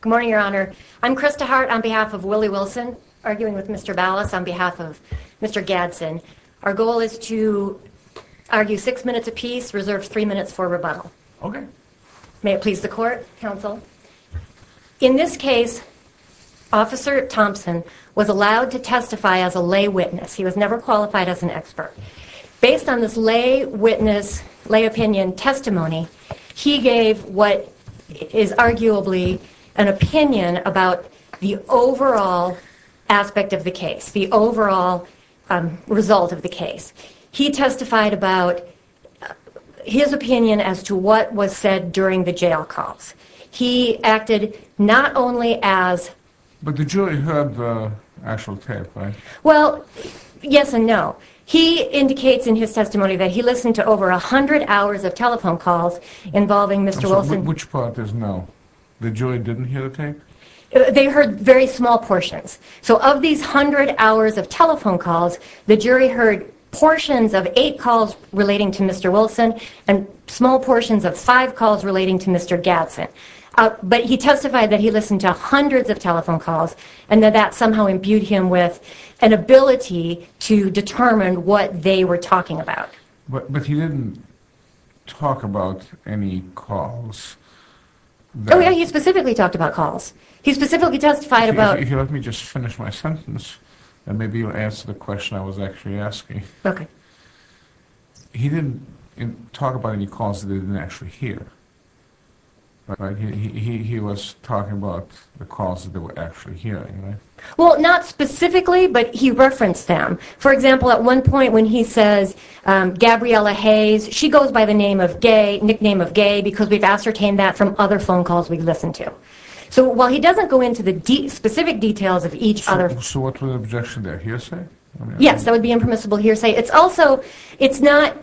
Good morning, Your Honor. I'm Krista Hart on behalf of Willie Wilson, arguing with Mr. Ballas on behalf of Mr. Gadson. Our goal is to argue six minutes apiece, reserve three minutes for rebuttal. Okay. May it please the court, counsel. In this case, Officer Thompson was allowed to testify as a lay witness. He was never qualified as an expert. Based on this lay witness, lay opinion testimony, he gave what is arguably an opinion about the overall aspect of the case, the overall result of the case. He testified about his opinion as to what was said during the jail calls. He acted not only as... But the jury heard the actual tape, right? Well, yes and no. He indicates in his testimony that he listened to over a hundred hours of telephone calls involving Mr. Wilson. Which part is no? The jury didn't hear the tape? They heard very small portions. So of these hundred hours of telephone calls, the jury heard portions of eight calls relating to Mr. Wilson and small portions of five calls relating to Mr. Gadson. But he testified that he listened to hundreds of telephone calls and that that somehow imbued him with an ability to determine what they were talking about. But he didn't talk about any calls that... Oh yeah, he specifically talked about calls. He specifically testified about... Here, let me just finish my sentence and maybe you'll answer the question I was actually asking. Okay. He didn't talk about any calls that he didn't actually hear, right? He was talking about the calls that they were actually hearing, right? Well, not specifically, but he referenced them. For example, at one point when he says, Gabriela Hayes, she goes by the nickname of Gay because we've ascertained that from other phone calls we've listened to. So while he doesn't go into the specific details of each other... So what was the objection there? Hearsay? Yes, that would be impermissible hearsay. It's also, it's not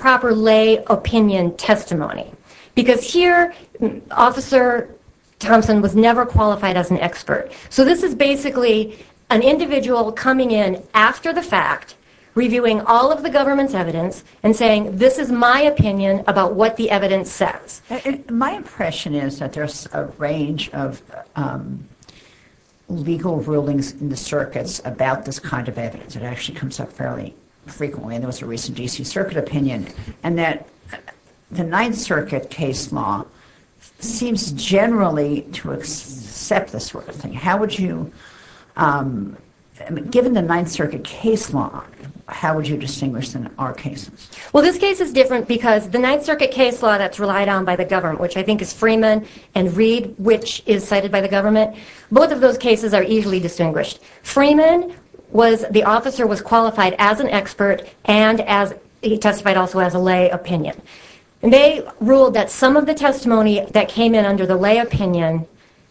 proper lay opinion testimony. Because here, Officer Thompson was never qualified as an expert. So this is basically an individual coming in after the fact, reviewing all of the government's evidence and saying, this is my opinion about what the evidence says. My impression is that there's a range of legal rulings in the circuits about this kind of evidence. It actually comes up fairly frequently, and there was a recent D.C. Circuit opinion, and that the Ninth Circuit case law seems generally to accept this sort of thing. How would you, given the Ninth Circuit case law, how would you distinguish them in our cases? Well, this case is different because the Ninth Circuit case law that's relied on by the government, which I think is Freeman and Reed, which is cited by the government, both of those cases are easily distinguished. Freeman was, the officer was qualified as an expert and as, he testified also as a lay opinion. They ruled that some of the testimony that came in under the lay opinion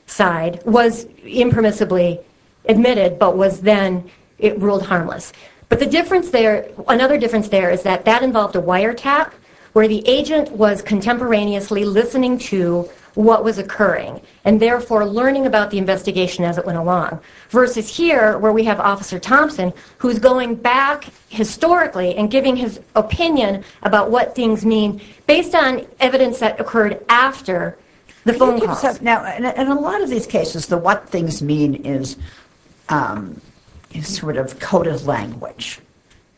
side was impermissibly admitted, but was then ruled harmless. But the difference there, another difference there is that that involved a wiretap, where the agent was contemporaneously listening to what was occurring, and therefore learning about the investigation as it went along. Versus here, where we have Officer Thompson, who's going back historically and giving his opinion about what things mean based on evidence that occurred after the phone calls. Now, in a lot of these cases, the what things mean is sort of coded language.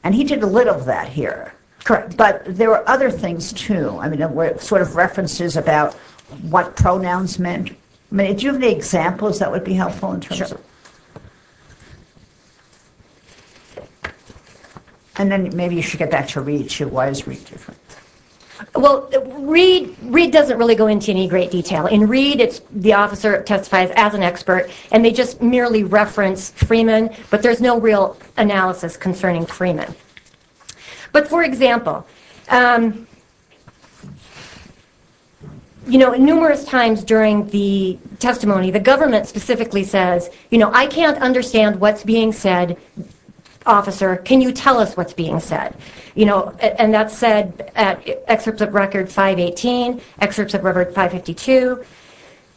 And he did a little of that here. Correct. But there were other things, too. I mean, sort of references about what pronouns meant. I mean, do you have any examples that would be helpful in terms of... Sure. And then maybe you should get back to Reed, too. Why is Reed different? Well, Reed doesn't really go into any great detail. In Reed, the officer testifies as an expert, and they just merely reference Freeman, but there's no real analysis concerning Freeman. But, for example, you know, numerous times during the testimony, the government specifically says, you know, I can't understand what's being said, officer. Can you tell us what's being said? And that's said at Excerpts of Record 518, Excerpts of Record 552.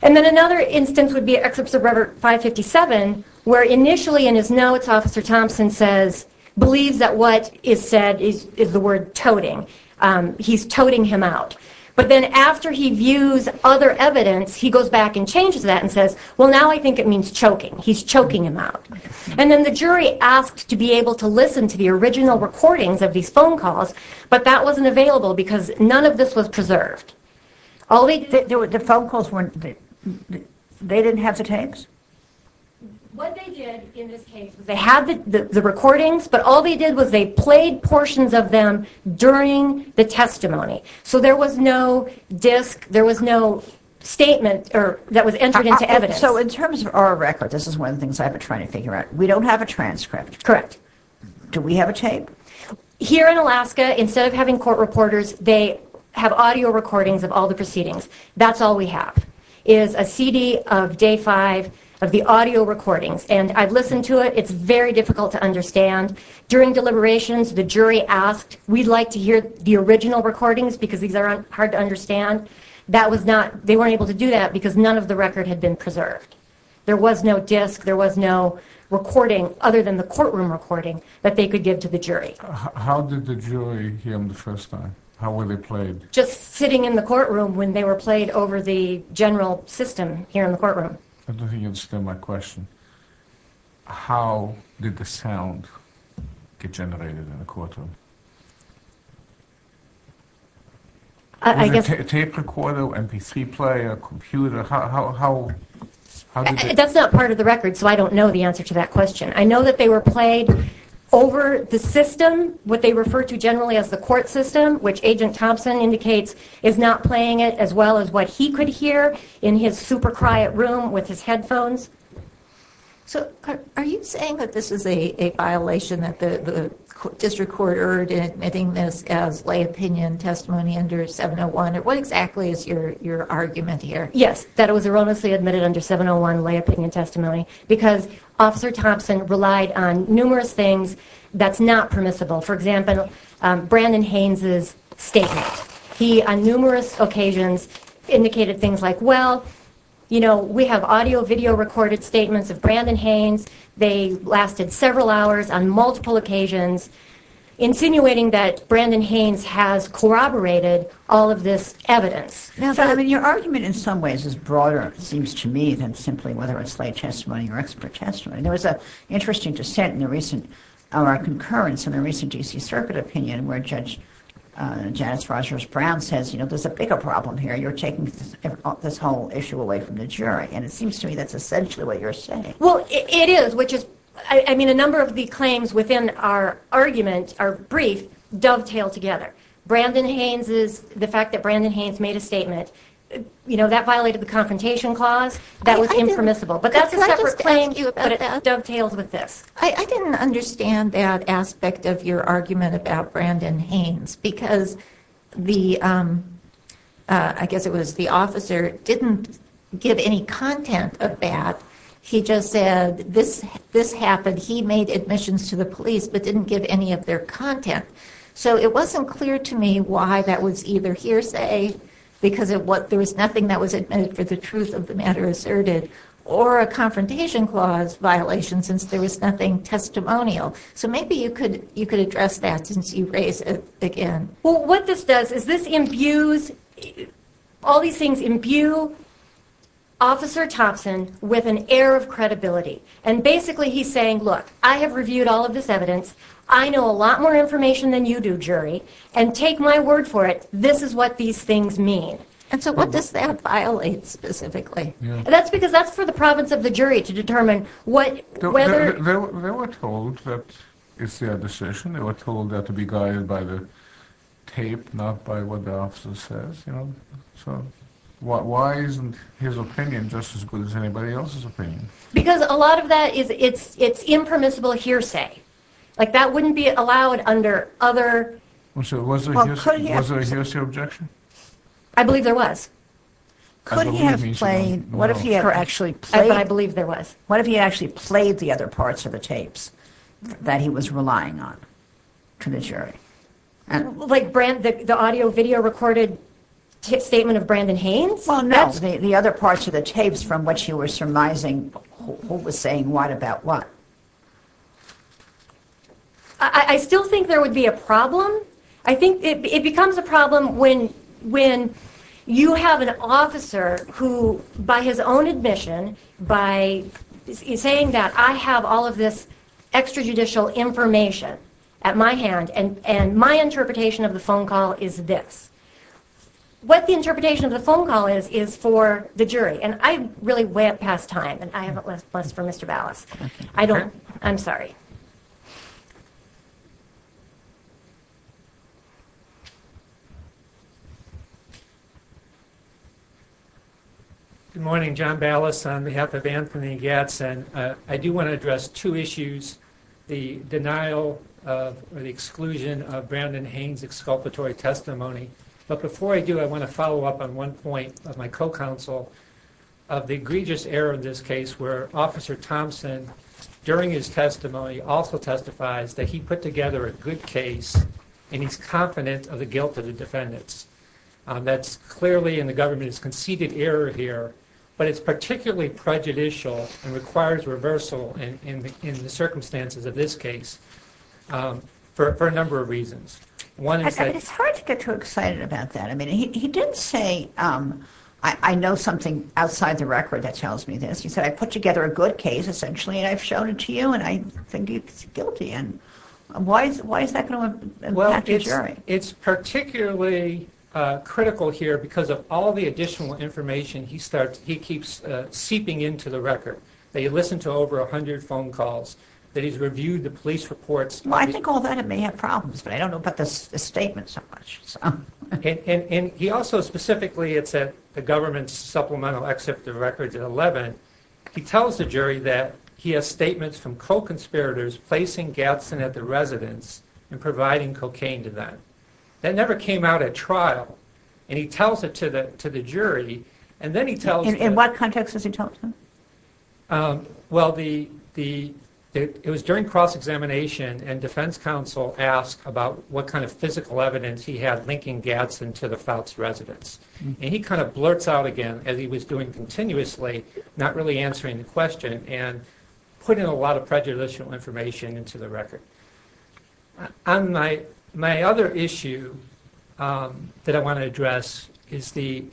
And then another instance would be Excerpts of Record 557, where initially in his notes, Officer Thompson says, believes that what is said is the word toting. He's toting him out. But then after he views other evidence, he goes back and changes that and says, well, now I think it means choking. He's choking him out. And then the jury asked to be able to listen to the original recordings of these phone calls, but that wasn't available because none of this was preserved. The phone calls weren't, they didn't have the tapes? What they did in this case was they had the recordings, but all they did was they played portions of them during the testimony. So there was no disc, there was no statement that was entered into evidence. So in terms of our record, this is one of the things I've been trying to figure out. We don't have a transcript. Correct. Do we have a tape? Here in Alaska, instead of having court reporters, they have audio recordings of all the proceedings. That's all we have is a CD of day five of the audio recordings. And I've listened to it. It's very difficult to understand. During deliberations, the jury asked, we'd like to hear the original recordings because these are hard to understand. They weren't able to do that because none of the record had been preserved. There was no disc, there was no recording other than the courtroom recording that they could give to the jury. How did the jury hear them the first time? How were they played? Just sitting in the courtroom when they were played over the general system here in the courtroom. I don't think you understand my question. How did the sound get generated in the courtroom? Was it a tape recorder, MP3 player, computer? That's not part of the record, so I don't know the answer to that question. I know that they were played over the system, what they refer to generally as the court system, which Agent Thompson indicates is not playing it, as well as what he could hear in his super quiet room with his headphones. Are you saying that this is a violation that the district court erred in admitting this as lay opinion testimony under 701? What exactly is your argument here? Yes, that it was erroneously admitted under 701, lay opinion testimony, because Officer Thompson relied on numerous things that's not permissible. For example, Brandon Haynes' statement. He, on numerous occasions, indicated things like, well, we have audio, video recorded statements of Brandon Haynes. They lasted several hours on multiple occasions, insinuating that Brandon Haynes has corroborated all of this evidence. Your argument in some ways is broader, it seems to me, than simply whether it's lay testimony or expert testimony. There was an interesting dissent in our concurrence in the recent D.C. Circuit opinion where Judge Janice Rogers Brown says there's a bigger problem here. You're taking this whole issue away from the jury, and it seems to me that's essentially what you're saying. Well, it is. A number of the claims within our argument, our brief, dovetail together. The fact that Brandon Haynes made a statement, that violated the Confrontation Clause, that was impermissible. But that's a separate claim, but it dovetails with this. I didn't understand that aspect of your argument about Brandon Haynes, because the, I guess it was the officer, didn't give any content of that. He just said, this happened, he made admissions to the police, but didn't give any of their content. So it wasn't clear to me why that was either hearsay, because there was nothing that was admitted for the truth of the matter asserted, or a Confrontation Clause violation, since there was nothing testimonial. So maybe you could address that, since you raised it again. Well, what this does, is this imbues, all these things imbue Officer Thompson with an air of credibility. And basically he's saying, look, I have reviewed all of this evidence, I know a lot more information than you do, jury, and take my word for it, this is what these things mean. And so what does that violate specifically? That's because that's for the province of the jury to determine whether... They were told that it's their decision, they were told that to be guided by the tape, not by what the officer says. So why isn't his opinion just as good as anybody else's opinion? Because a lot of that is, it's impermissible hearsay. Like that wouldn't be allowed under other... Was there a hearsay objection? I believe there was. Could he have played, what if he had actually played... The other parts of the tapes that he was relying on to the jury? Like the audio-video recorded statement of Brandon Haynes? Well, no, the other parts of the tapes from which you were surmising who was saying what about what. I still think there would be a problem. I think it becomes a problem when you have an officer who, by his own admission, by saying that I have all of this extrajudicial information at my hand and my interpretation of the phone call is this. What the interpretation of the phone call is, is for the jury. And I really went past time, and I have less for Mr. Ballas. I don't... I'm sorry. Good morning. John Ballas on behalf of Anthony Gadsden. I do want to address two issues. The denial or the exclusion of Brandon Haynes' exculpatory testimony. But before I do, I want to follow up on one point of my co-counsel of the egregious error in this case where Officer Thompson, during his testimony, also testifies that he put together a good case and he's confident of the guilt of the defendants. That's clearly in the government's conceded error here, but it's particularly prejudicial and requires reversal in the circumstances of this case for a number of reasons. It's hard to get too excited about that. I mean, he didn't say, I know something outside the record that tells me this. He said, I put together a good case, essentially, and I've shown it to you, and I think it's guilty. And why is that going to impact the jury? It's particularly critical here because of all the additional information he keeps seeping into the record. That he listened to over 100 phone calls, that he's reviewed the police reports. Well, I think all that may have problems, but I don't know about this statement so much. And he also specifically, it's at the government's supplemental except the records at 11, he tells the jury that he has statements from co-conspirators placing Gadsden at the residence and providing cocaine to them. That never came out at trial. And he tells it to the jury, and then he tells... In what context does he tell it to them? Well, it was during cross-examination, and defense counsel asked about what kind of physical evidence he had linking Gadsden to the Fouts residence. And he kind of blurts out again, as he was doing continuously, not really answering the question, and putting a lot of prejudicial information into the record. My other issue that I want to address is the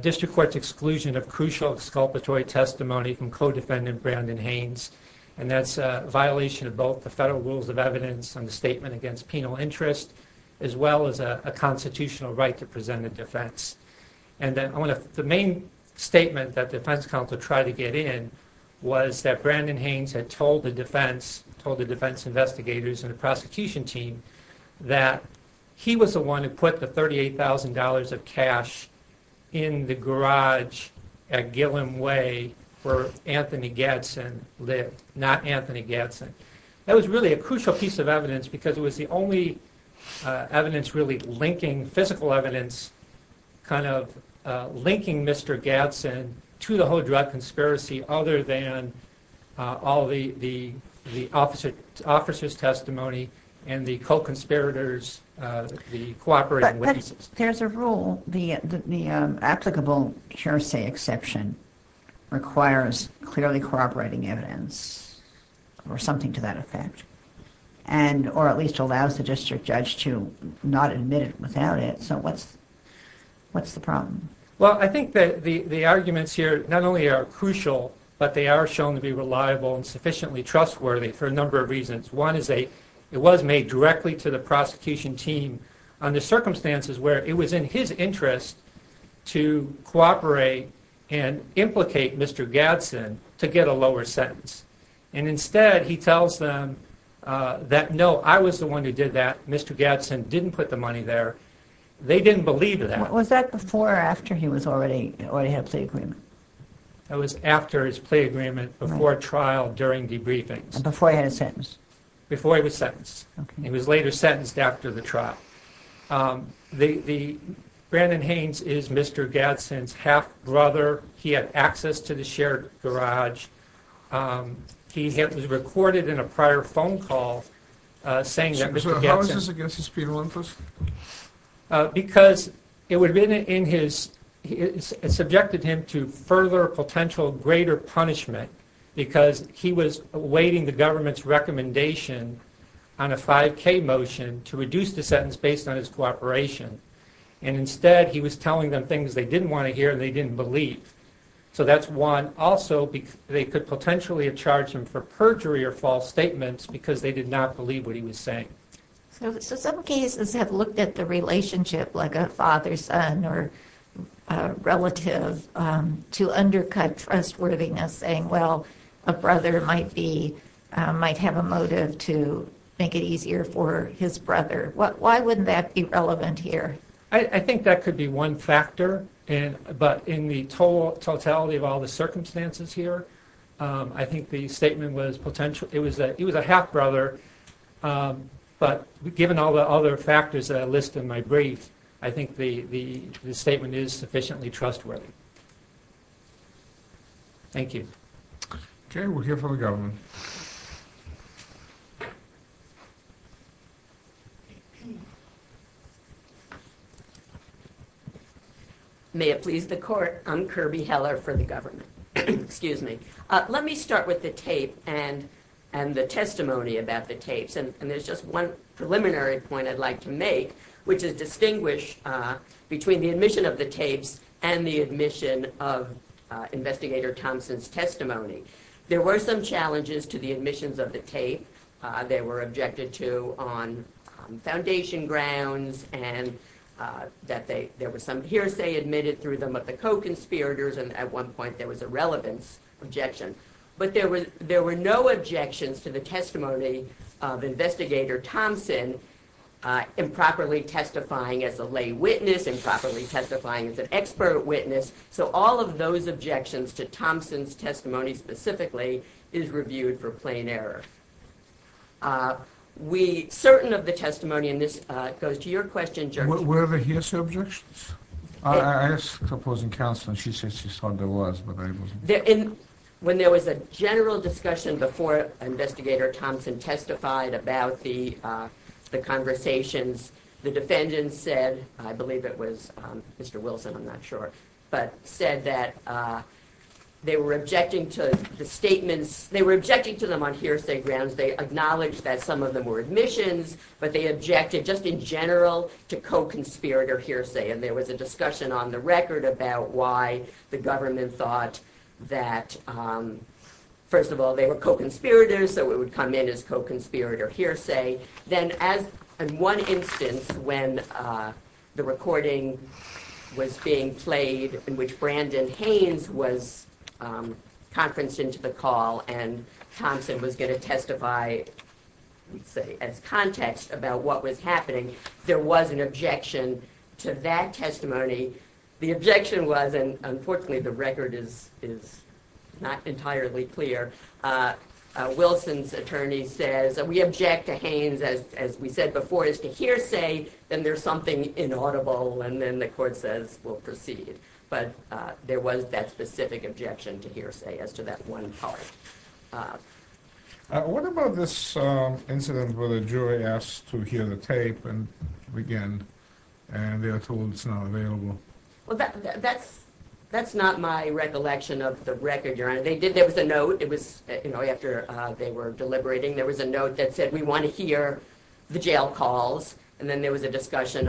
district court's exclusion of crucial exculpatory testimony from co-defendant Brandon Haynes. And that's a violation of both the federal rules of evidence and the statement against penal interest, as well as a constitutional right to present a defense. And the main statement that defense counsel tried to get in was that Brandon Haynes had told the defense, told the defense investigators and the prosecution team, that he was the one who put the $38,000 of cash in the garage at Gilliam Way where Anthony Gadsden lived, not Anthony Gadsden. That was really a crucial piece of evidence because it was the only evidence really linking, physical evidence kind of linking Mr. Gadsden to the whole drug conspiracy other than all the officer's testimony and the co-conspirators, the cooperating witnesses. But there's a rule. The applicable hearsay exception requires clearly corroborating evidence or something to that effect. Or at least allows the district judge to not admit it without it. So what's the problem? Well, I think that the arguments here not only are crucial, but they are shown to be reliable and sufficiently trustworthy for a number of reasons. One is it was made directly to the prosecution team under circumstances where it was in his interest to cooperate and implicate Mr. Gadsden to get a lower sentence. And instead, he tells them that, no, I was the one who did that. Mr. Gadsden didn't put the money there. They didn't believe that. Was that before or after he already had a plea agreement? That was after his plea agreement, before trial, during debriefings. Before he had a sentence? Before he was sentenced. He was later sentenced after the trial. Brandon Haynes is Mr. Gadsden's half-brother. He had access to the shared garage. He was recorded in a prior phone call saying that Mr. Gadsden... So how is this against his penal interest? Because it subjected him to further potential greater punishment because he was awaiting the government's recommendation on a 5K motion to reduce the sentence based on his cooperation. And instead, he was telling them things they didn't want to hear and they didn't believe. So that's one. Also, they could potentially have charged him for perjury or false statements because they did not believe what he was saying. So some cases have looked at the relationship like a father-son or relative to undercut trustworthiness, saying, well, a brother might have a motive to make it easier for his brother. Why wouldn't that be relevant here? I think that could be one factor. But in the totality of all the circumstances here, I think the statement was potential... It was a half-brother. But given all the other factors that I listed in my brief, I think the statement is sufficiently trustworthy. Thank you. Okay, we'll hear from the government. May it please the court, I'm Kirby Heller for the government. Excuse me. Let me start with the tape and the testimony about the tapes. And there's just one preliminary point I'd like to make, which is distinguish between the admission of the tapes and the admission of Investigator Thompson's testimony. There were some challenges to the admissions of the tape. They were objected to on foundation grounds and that there was some hearsay admitted through them of the co-conspirators. And at one point there was a relevance objection. But there were no objections to the testimony of Investigator Thompson improperly testifying as a lay witness, improperly testifying as an expert witness. So all of those objections to Thompson's testimony specifically is reviewed for plain error. We're certain of the testimony, and this goes to your question, Judge... Were there hearsay objections? I asked the opposing counsel and she said she thought there was, but I wasn't sure. When there was a general discussion before Investigator Thompson testified about the conversations, the defendants said, I believe it was Mr Wilson, I'm not sure, but said that they were objecting to the statements... They were objecting to them on hearsay grounds. They acknowledged that some of them were admissions, but they objected just in general to co-conspirator hearsay. And there was a discussion on the record about why the government thought that, first of all, they were co-conspirators, so it would come in as co-conspirator hearsay. Then, in one instance, when the recording was being played in which Brandon Haynes was conferenced into the call and Thompson was going to testify, let's say, as context about what was happening, there was an objection to that testimony. The objection was, and unfortunately the record is not entirely clear, Wilson's attorney says, and we object to Haynes, as we said before, is to hearsay, then there's something inaudible, and then the court says, we'll proceed. But there was that specific objection to hearsay as to that one part. What about this incident where the jury asked to hear the tape and began, and they are told it's not available? That's not my recollection of the record, Your Honor. There was a note, after they were deliberating, there was a note that said, we want to hear the jail calls, and then there was a discussion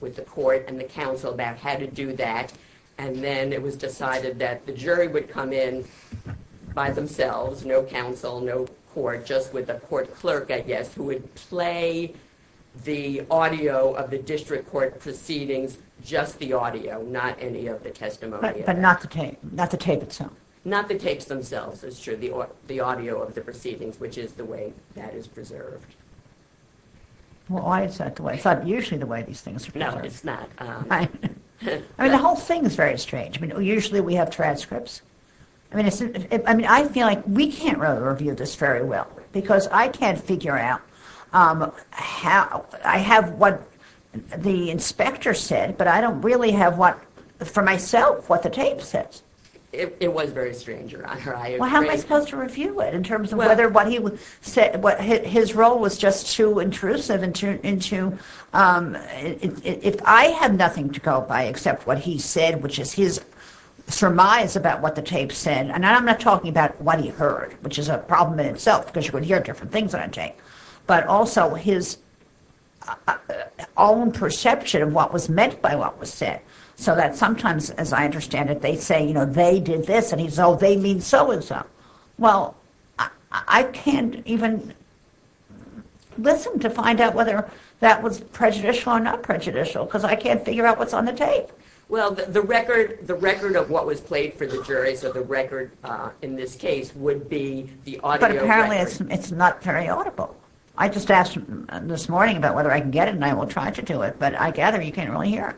with the court and the counsel about how to do that, and then it was decided that the jury would come in by themselves, no counsel, no court, just with a court clerk, I guess, who would play the audio of the district court proceedings, just the audio, not any of the testimony. But not the tape, not the tape itself. Not the tapes themselves, it's true, the audio of the proceedings, which is the way that is preserved. Well, it's not usually the way these things are preserved. No, it's not. I mean, the whole thing is very strange. Usually we have transcripts. I mean, I feel like we can't really review this very well, because I can't figure out how... I have what the inspector said, but I don't really have what, for myself, what the tape says. It was very strange, Your Honor, I agree. Well, how am I supposed to review it in terms of whether what he said, his role was just too intrusive and too... If I had nothing to go by except what he said, which is his surmise about what the tape said, and I'm not talking about what he heard, which is a problem in itself, because you could hear different things on a tape, but also his own perception of what was meant by what was said, so that sometimes, as I understand it, they say, you know, they did this, and he says, oh, they mean so-and-so. Well, I can't even listen to find out whether that was prejudicial or not prejudicial, because I can't figure out what's on the tape. Well, the record of what was played for the jury, so the record in this case would be the audio... But apparently it's not very audible. I just asked him this morning about whether I can get it, and I will try to do it, but I gather you can't really hear it.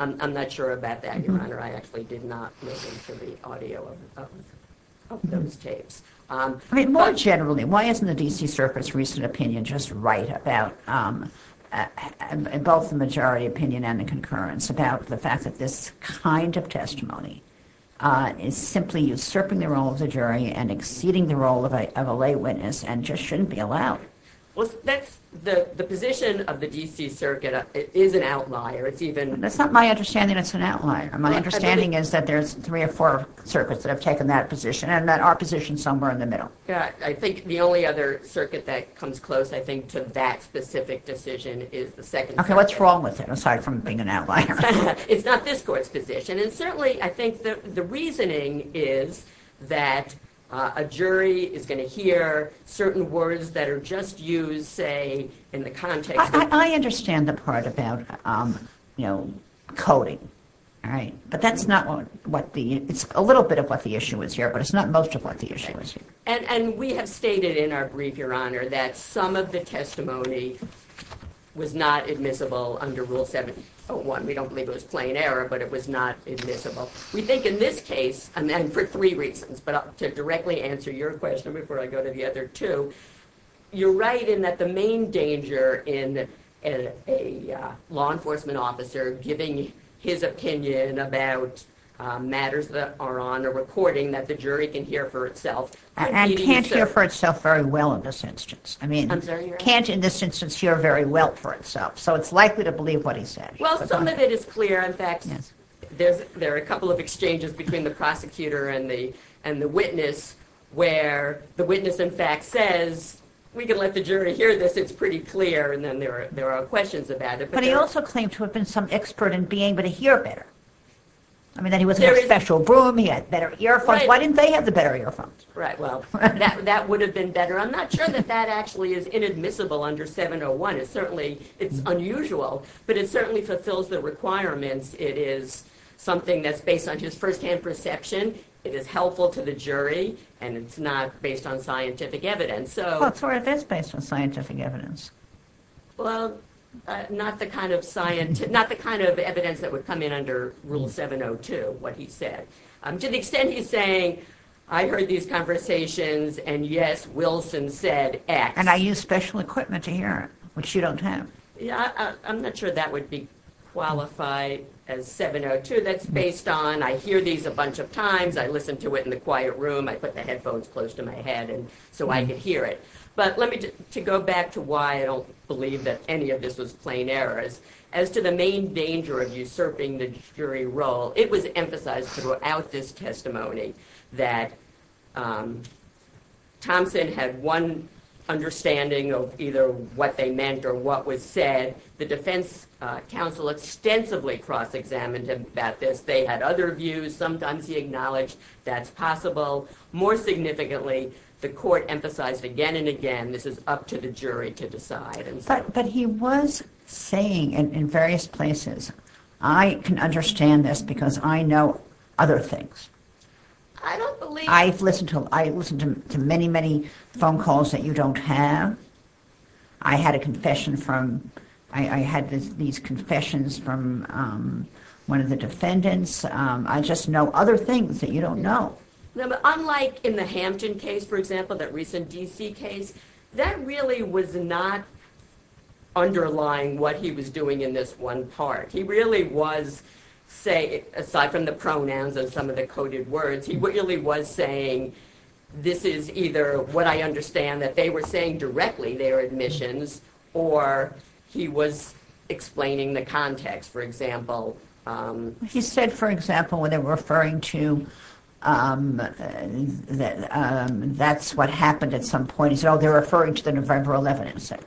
I'm not sure about that, Your Honor. I actually did not listen to the audio of those tapes. I mean, more generally, why isn't the D.C. Circuit's recent opinion just right about both the majority opinion and the concurrence about the fact that this kind of testimony is simply usurping the role of the jury and exceeding the role of a lay witness and just shouldn't be allowed? Well, that's... The position of the D.C. Circuit is an outlier. It's even... That's not my understanding it's an outlier. My understanding is that there's three or four circuits that have taken that position, and that our position's somewhere in the middle. Yeah, I think the only other circuit that comes close, I think, to that specific decision is the second circuit. Okay, what's wrong with it, aside from being an outlier? It's not this court's position, and certainly I think that the reasoning is that a jury is going to hear certain words that are just used, say, in the context... I understand the part about, you know, coding, all right? But that's not what the... It's a little bit of what the issue is here, but it's not most of what the issue is here. And we have stated in our brief, Your Honor, that some of the testimony was not admissible under Rule 7001. We don't believe it was plain error, but it was not admissible. We think in this case, and for three reasons, but to directly answer your question before I go to the other two, you're right in that the main danger in a law enforcement officer giving his opinion about matters that are on a recording that the jury can hear for itself... And can't hear for itself very well in this instance. I'm sorry, Your Honor? Can't, in this instance, hear very well for itself. So it's likely to believe what he said. Well, some of it is clear. In fact, there are a couple of exchanges between the prosecutor and the witness where the witness, in fact, says, we can let the jury hear this, it's pretty clear, and then there are questions about it. But he also claimed to have been some expert in being able to hear better. I mean, that he was in a special room, he had better earphones. Why didn't they have the better earphones? Right, well, that would have been better. I'm not sure that that actually is inadmissible under 701. It's certainly unusual, but it certainly fulfills the requirements. It is something that's based on his firsthand perception. It is helpful to the jury, and it's not based on scientific evidence. Well, it is based on scientific evidence. Well, not the kind of evidence that would come in under Rule 702, what he said. To the extent he's saying, I heard these conversations, and yes, Wilson said X. And I used special equipment to hear it, which you don't have. Yeah, I'm not sure that would be qualified as 702. That's based on, I hear these a bunch of times, I listen to it in the quiet room, I put the headphones close to my head so I can hear it. But to go back to why I don't believe that any of this was plain errors, as to the main danger of usurping the jury role, it was emphasized throughout this testimony that Thompson had one understanding of either what they meant or what was said. The defense counsel extensively cross-examined him about this. They had other views. Sometimes he acknowledged that's possible. More significantly, the court emphasized again and again, this is up to the jury to decide. But he was saying in various places, I can understand this because I know other things. I don't believe... I've listened to many, many phone calls that you don't have. I had a confession from... I had these confessions from one of the defendants. I just know other things that you don't know. Unlike in the Hampton case, for example, that recent D.C. case, that really was not underlying what he was doing in this one part. He really was saying, aside from the pronouns and some of the coded words, he really was saying this is either what I understand, that they were saying directly their admissions, or he was explaining the context, for example. He said, for example, when they were referring to... That's what happened at some point. He said, oh, they're referring to the November 11 incident.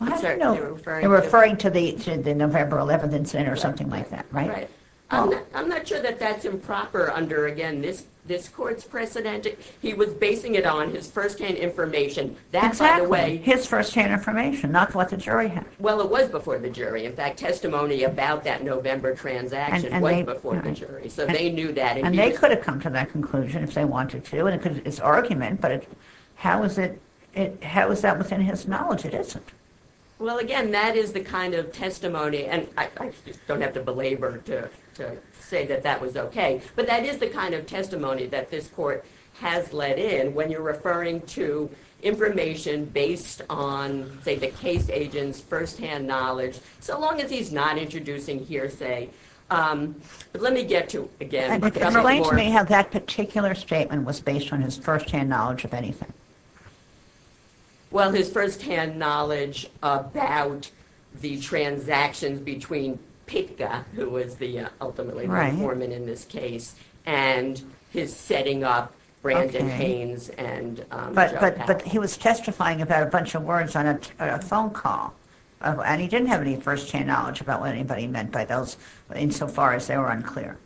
I don't know. They were referring to the November 11 incident or something like that, right? I'm not sure that that's improper under, again, this court's precedent. He was basing it on his firsthand information. Exactly, his firsthand information, not what the jury had. Well, it was before the jury. In fact, testimony about that November transaction was before the jury. So they knew that. And they could have come to that conclusion if they wanted to. It's argument, but how is that within his knowledge? It isn't. Well, again, that is the kind of testimony... And I don't have to belabor to say that that was OK, but that is the kind of testimony that this court has let in when you're referring to information based on, say, the case agent's firsthand knowledge. So long as he's not introducing hearsay. But let me get to, again... Explain to me how that particular statement was based on his firsthand knowledge of anything. Well, his firsthand knowledge about the transactions between PICA, who was ultimately the informant in this case, and his setting up Brandon Haynes and Joe Papp. But he was testifying about a bunch of words on a phone call. And he didn't have any firsthand knowledge about what anybody meant by those, insofar as they were unclear.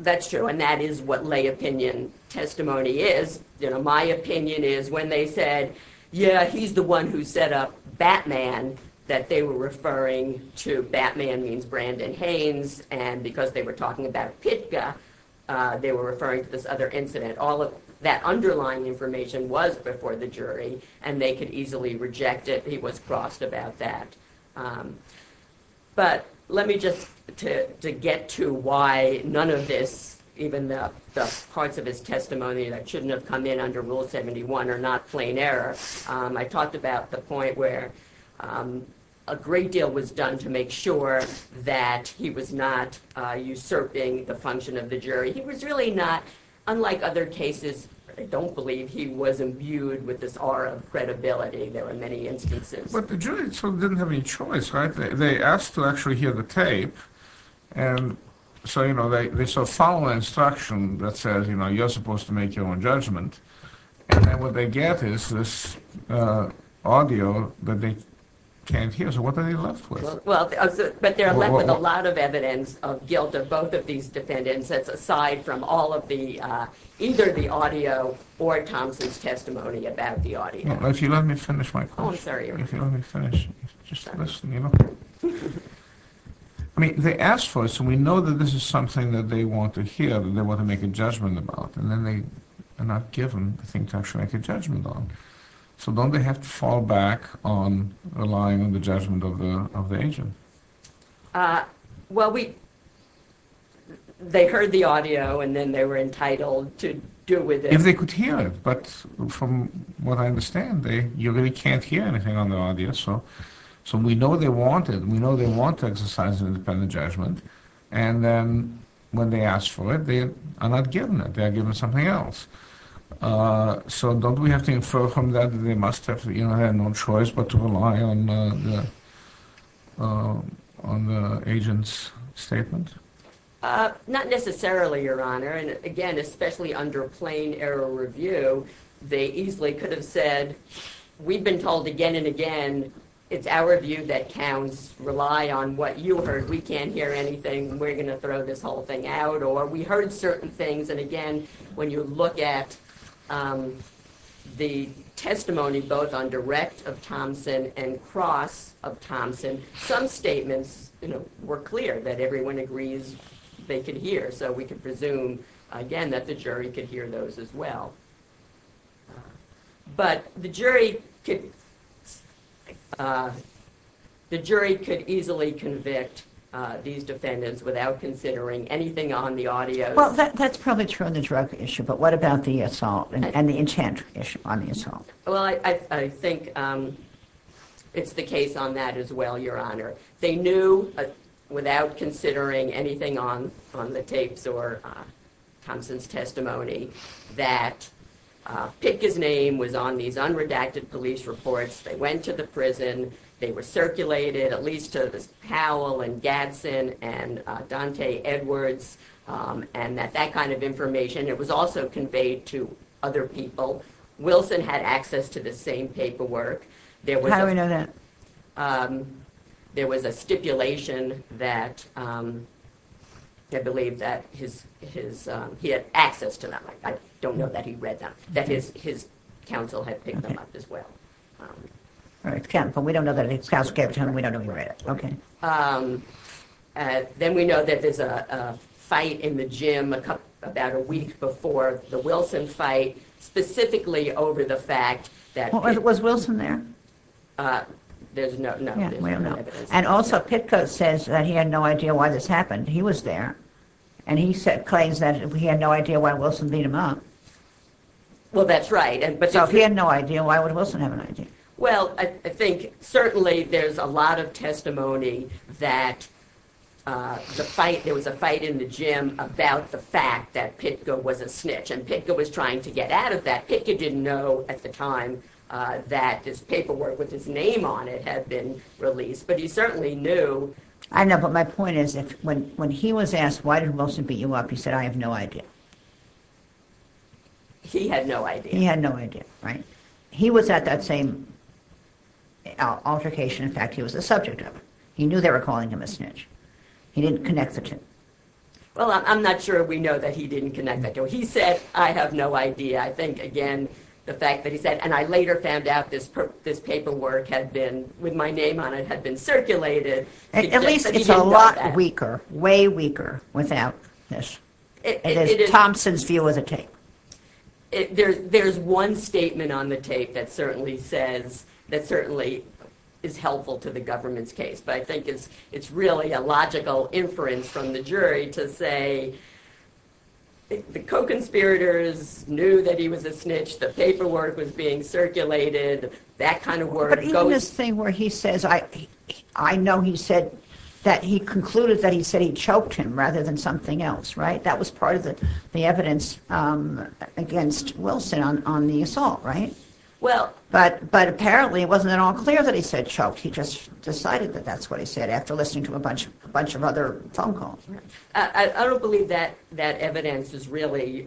That's true, and that is what lay opinion testimony is. You know, my opinion is when they said, yeah, he's the one who set up Batman, that they were referring to Batman means Brandon Haynes, and because they were talking about PICA, they were referring to this other incident. All of that underlying information was before the jury, and they could easily reject it. He was crossed about that. But let me just... To get to why none of this, even the parts of his testimony that shouldn't have come in under Rule 71 are not plain error, I talked about the point where a great deal was done He was really not, unlike other cases, I don't believe he was imbued with this aura of credibility. There were many instances. But the jury didn't have any choice, right? They asked to actually hear the tape. And so, you know, there's a following instruction that says, you know, you're supposed to make your own judgment. And then what they get is this audio that they can't hear. So what are they left with? But they're left with a lot of evidence of guilt of both of these defendants aside from all of the... either the audio or Thompson's testimony about the audio. If you let me finish my question. Oh, I'm sorry. If you let me finish. Just listen, you know. I mean, they asked for it, so we know that this is something that they want to hear, that they want to make a judgment about. And then they are not given the thing to actually make a judgment on. So don't they have to fall back on relying on the judgment of the agent? Well, we... They heard the audio and then they were entitled to deal with it. If they could hear it. But from what I understand, you really can't hear anything on the audio. So we know they want it. We know they want to exercise an independent judgment. And then when they ask for it, they are not given it. They are given something else. So don't we have to infer from that that they must have had no choice but to rely on the agent's statement? Not necessarily, Your Honor. And again, especially under plain error review, they easily could have said, we've been told again and again, it's our view that counts. Rely on what you heard. We can't hear anything. We're going to throw this whole thing out. Or we heard certain things. And again, when you look at the testimony, both on direct of Thompson and cross of Thompson, some statements were clear that everyone agrees they could hear. So we can presume, again, that the jury could hear those as well. But the jury could easily convict these defendants without considering anything on the audio. Well, that's probably true on the drug issue. But what about the assault and the enchantment issue on the assault? Well, I think it's the case on that as well, Your Honor. They knew without considering anything on the tapes or Thompson's testimony that Pick's name was on these unredacted police reports. They went to the prison. They were circulated, at least to Powell and Gadsden and Dante Edwards and that kind of information. It was also conveyed to other people. Wilson had access to the same paperwork. How do we know that? There was a stipulation that I believe that he had access to that. I don't know that he read that. That his counsel had picked them up as well. All right. We don't know that. We don't know he read it. Okay. Then we know that there's a fight in the gym about a week before the Wilson fight specifically over the fact that- Was Wilson there? There's no evidence. And also, Pitko says that he had no idea why this happened. He was there. And he claims that he had no idea why Wilson beat him up. Well, that's right. So if he had no idea, why would Wilson have an idea? Well, I think certainly there's a lot of testimony that there was a fight in the gym about the fact that Pitko was a snitch, and Pitko was trying to get out of that. Pitko didn't know at the time that this paperwork with his name on it had been released, but he certainly knew. I know, but my point is when he was asked, why did Wilson beat you up, he said, I have no idea. He had no idea. He had no idea, right? He was at that same altercation. In fact, he was the subject of it. He knew they were calling him a snitch. He didn't connect the two. Well, I'm not sure we know that he didn't connect the two. He said, I have no idea. I think, again, the fact that he said, and I later found out this paperwork had been, with my name on it, had been circulated. At least it's a lot weaker, way weaker, without this. It is Thompson's view of the tape. There's one statement on the tape that certainly says, that certainly is helpful to the government's case, but I think it's really a logical inference from the jury to say, the co-conspirators knew that he was a snitch, the paperwork was being circulated, that kind of work. But even this thing where he says, I know he said, that he concluded that he said he choked him rather than something else, right? That was part of the evidence against Wilson on the assault, right? But apparently it wasn't at all clear that he said choked. He just decided that that's what he said after listening to a bunch of other phone calls. I don't believe that evidence is really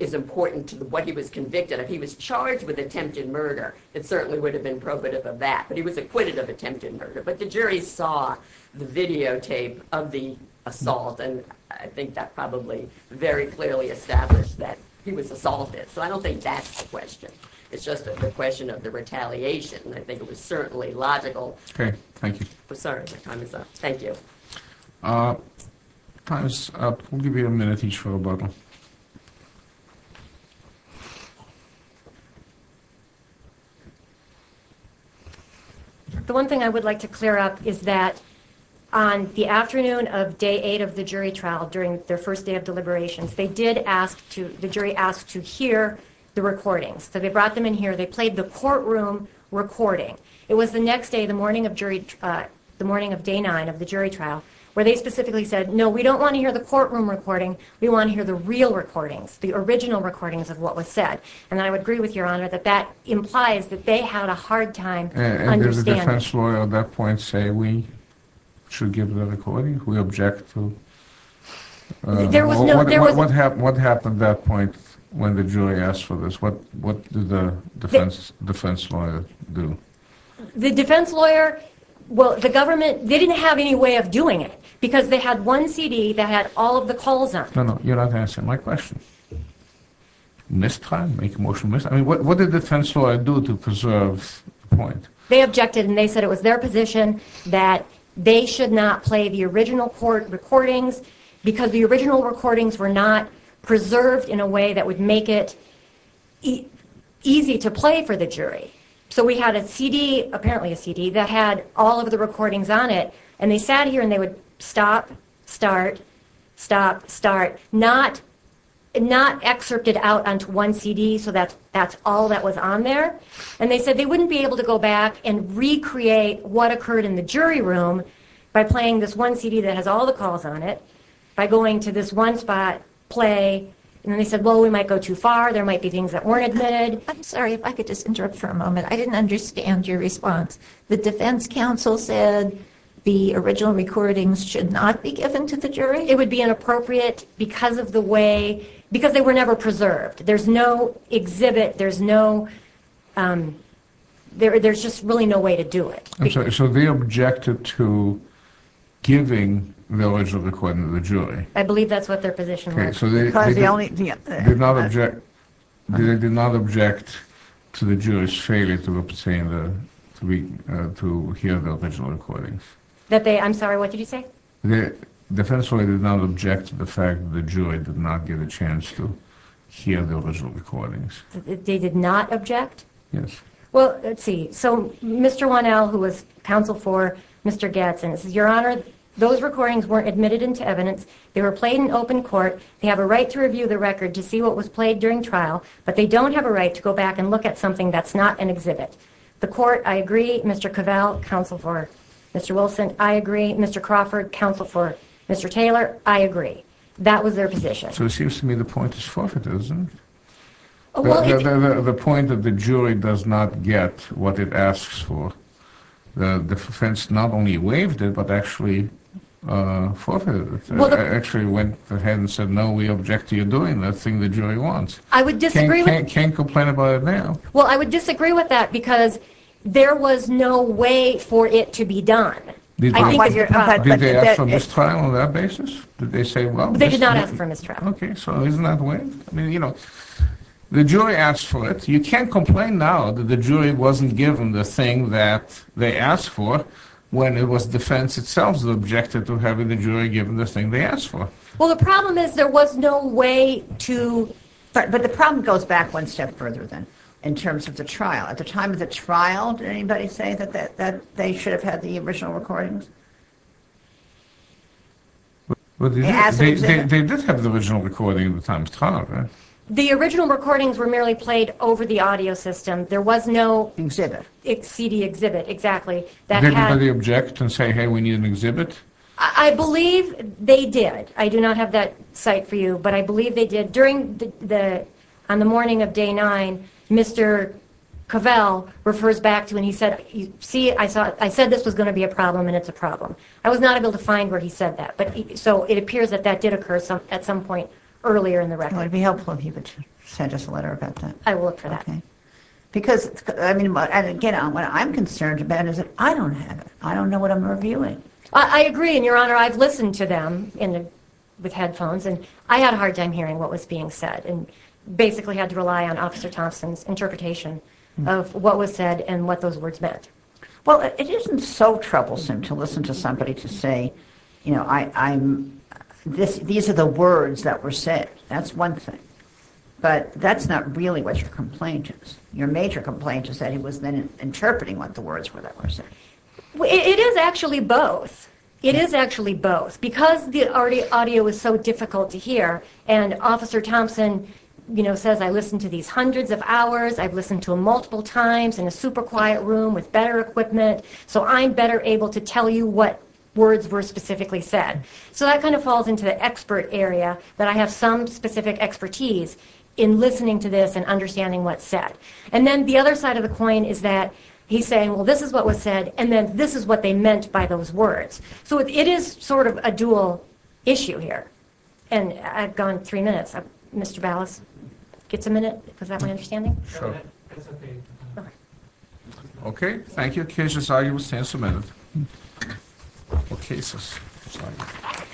important to what he was convicted of. He was charged with attempted murder. It certainly would have been probative of that. But he was acquitted of attempted murder. But the jury saw the videotape of the assault, and I think that probably very clearly established that he was assaulted. So I don't think that's the question. It's just the question of the retaliation. I think it was certainly logical. Okay. Thank you. Sorry, my time is up. Thank you. Time is up. We'll give you a minute each for a bubble. Thank you. The one thing I would like to clear up is that on the afternoon of day 8 of the jury trial, during their first day of deliberations, the jury asked to hear the recordings. So they brought them in here. They played the courtroom recording. It was the next day, the morning of day 9 of the jury trial, where they specifically said, no, we don't want to hear the courtroom recording. We want to hear the real recordings, the original recordings of what was said. And I would agree with Your Honor that that implies that they had a hard time understanding. And did the defense lawyer at that point say we should give the recording? We object to? There was no... What happened at that point when the jury asked for this? What did the defense lawyer do? The defense lawyer, well, the government, they didn't have any way of doing it because they had one CD that had all of the calls on it. No, no, you're not answering my question. Mistime? Make a motion to mistime? I mean, what did the defense lawyer do to preserve the point? They objected and they said it was their position that they should not play the original court recordings because the original recordings were not preserved in a way that would make it easy to play for the jury. So we had a CD, apparently a CD, that had all of the recordings on it, and they sat here and they would stop, start, stop, start, not excerpt it out onto one CD so that's all that was on there. And they said they wouldn't be able to go back and recreate what occurred in the jury room by playing this one CD that has all the calls on it, by going to this one spot, play, and then they said, well, we might go too far, there might be things that weren't admitted. I'm sorry if I could just interrupt for a moment. I didn't understand your response. The defense counsel said the original recordings should not be given to the jury? It would be inappropriate because of the way, because they were never preserved. There's no exhibit, there's no, there's just really no way to do it. I'm sorry, so they objected to giving the original recording to the jury? I believe that's what their position was. They did not object to the jury's failure to hear the original recordings. I'm sorry, what did you say? The defense lawyer did not object to the fact that the jury did not get a chance to hear the original recordings. They did not object? Yes. Well, let's see, so Mr. Wannell, who was counsel for Mr. Gadsden, says, Your Honor, those recordings weren't admitted into evidence, they were played in open court, they have a right to review the record to see what was played during trial, but they don't have a right to go back and look at something that's not an exhibit. The court, I agree, Mr. Cavell, counsel for Mr. Wilson, I agree, Mr. Crawford, counsel for Mr. Taylor, I agree. That was their position. So it seems to me the point is forfeit, isn't it? The point that the jury does not get what it asks for. The defense not only waived it, but actually forfeited it. Actually went ahead and said, No, we object to you doing that thing the jury wants. I would disagree with that. You can't complain about it now. Well, I would disagree with that because there was no way for it to be done. Did they ask for mistrial on that basis? They did not ask for mistrial. Okay, so isn't that waived? I mean, you know, the jury asked for it. You can't complain now that the jury wasn't given the thing that they asked for when it was defense itself that objected to having the jury give them the thing they asked for. Well, the problem is there was no way to – but the problem goes back one step further then in terms of the trial. At the time of the trial, did anybody say that they should have had the original recordings? They did have the original recording at the time of the trial, right? The original recordings were merely played over the audio system. There was no CD exhibit, exactly. Did anybody object and say, hey, we need an exhibit? I believe they did. I do not have that site for you, but I believe they did. On the morning of day nine, Mr. Cavell refers back to when he said, I said this was going to be a problem and it's a problem. I was not able to find where he said that, so it appears that that did occur at some point earlier in the record. It would be helpful if you could send us a letter about that. I will look for that. Because, again, what I'm concerned about is that I don't have it. I don't know what I'm reviewing. I agree, and, Your Honor, I've listened to them with headphones, and I had a hard time hearing what was being said and basically had to rely on Officer Thompson's interpretation of what was said and what those words meant. Well, it isn't so troublesome to listen to somebody to say, you know, these are the words that were said. That's one thing. But that's not really what your complaint is. Your major complaint is that he was then interpreting what the words were that were said. It is actually both. It is actually both. Because the audio is so difficult to hear and Officer Thompson, you know, says I listened to these hundreds of hours, I've listened to them multiple times in a super quiet room with better equipment, so I'm better able to tell you what words were specifically said. So that kind of falls into the expert area, that I have some specific expertise in listening to this and understanding what's said. And then the other side of the coin is that he's saying, well, this is what was said, and then this is what they meant by those words. So it is sort of a dual issue here. And I've gone three minutes. Mr. Ballas gets a minute? Is that my understanding? Sure. Okay. Thank you. The case is argued with ten minutes. The case is argued. The case is argued.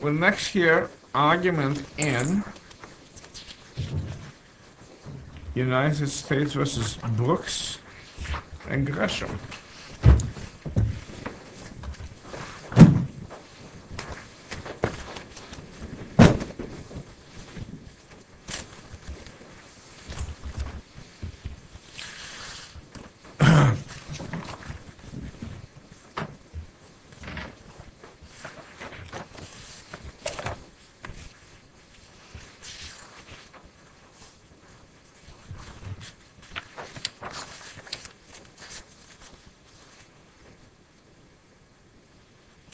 We'll next hear argument in. United States versus Brooks. The case is argued. The case is argued. The case is argued.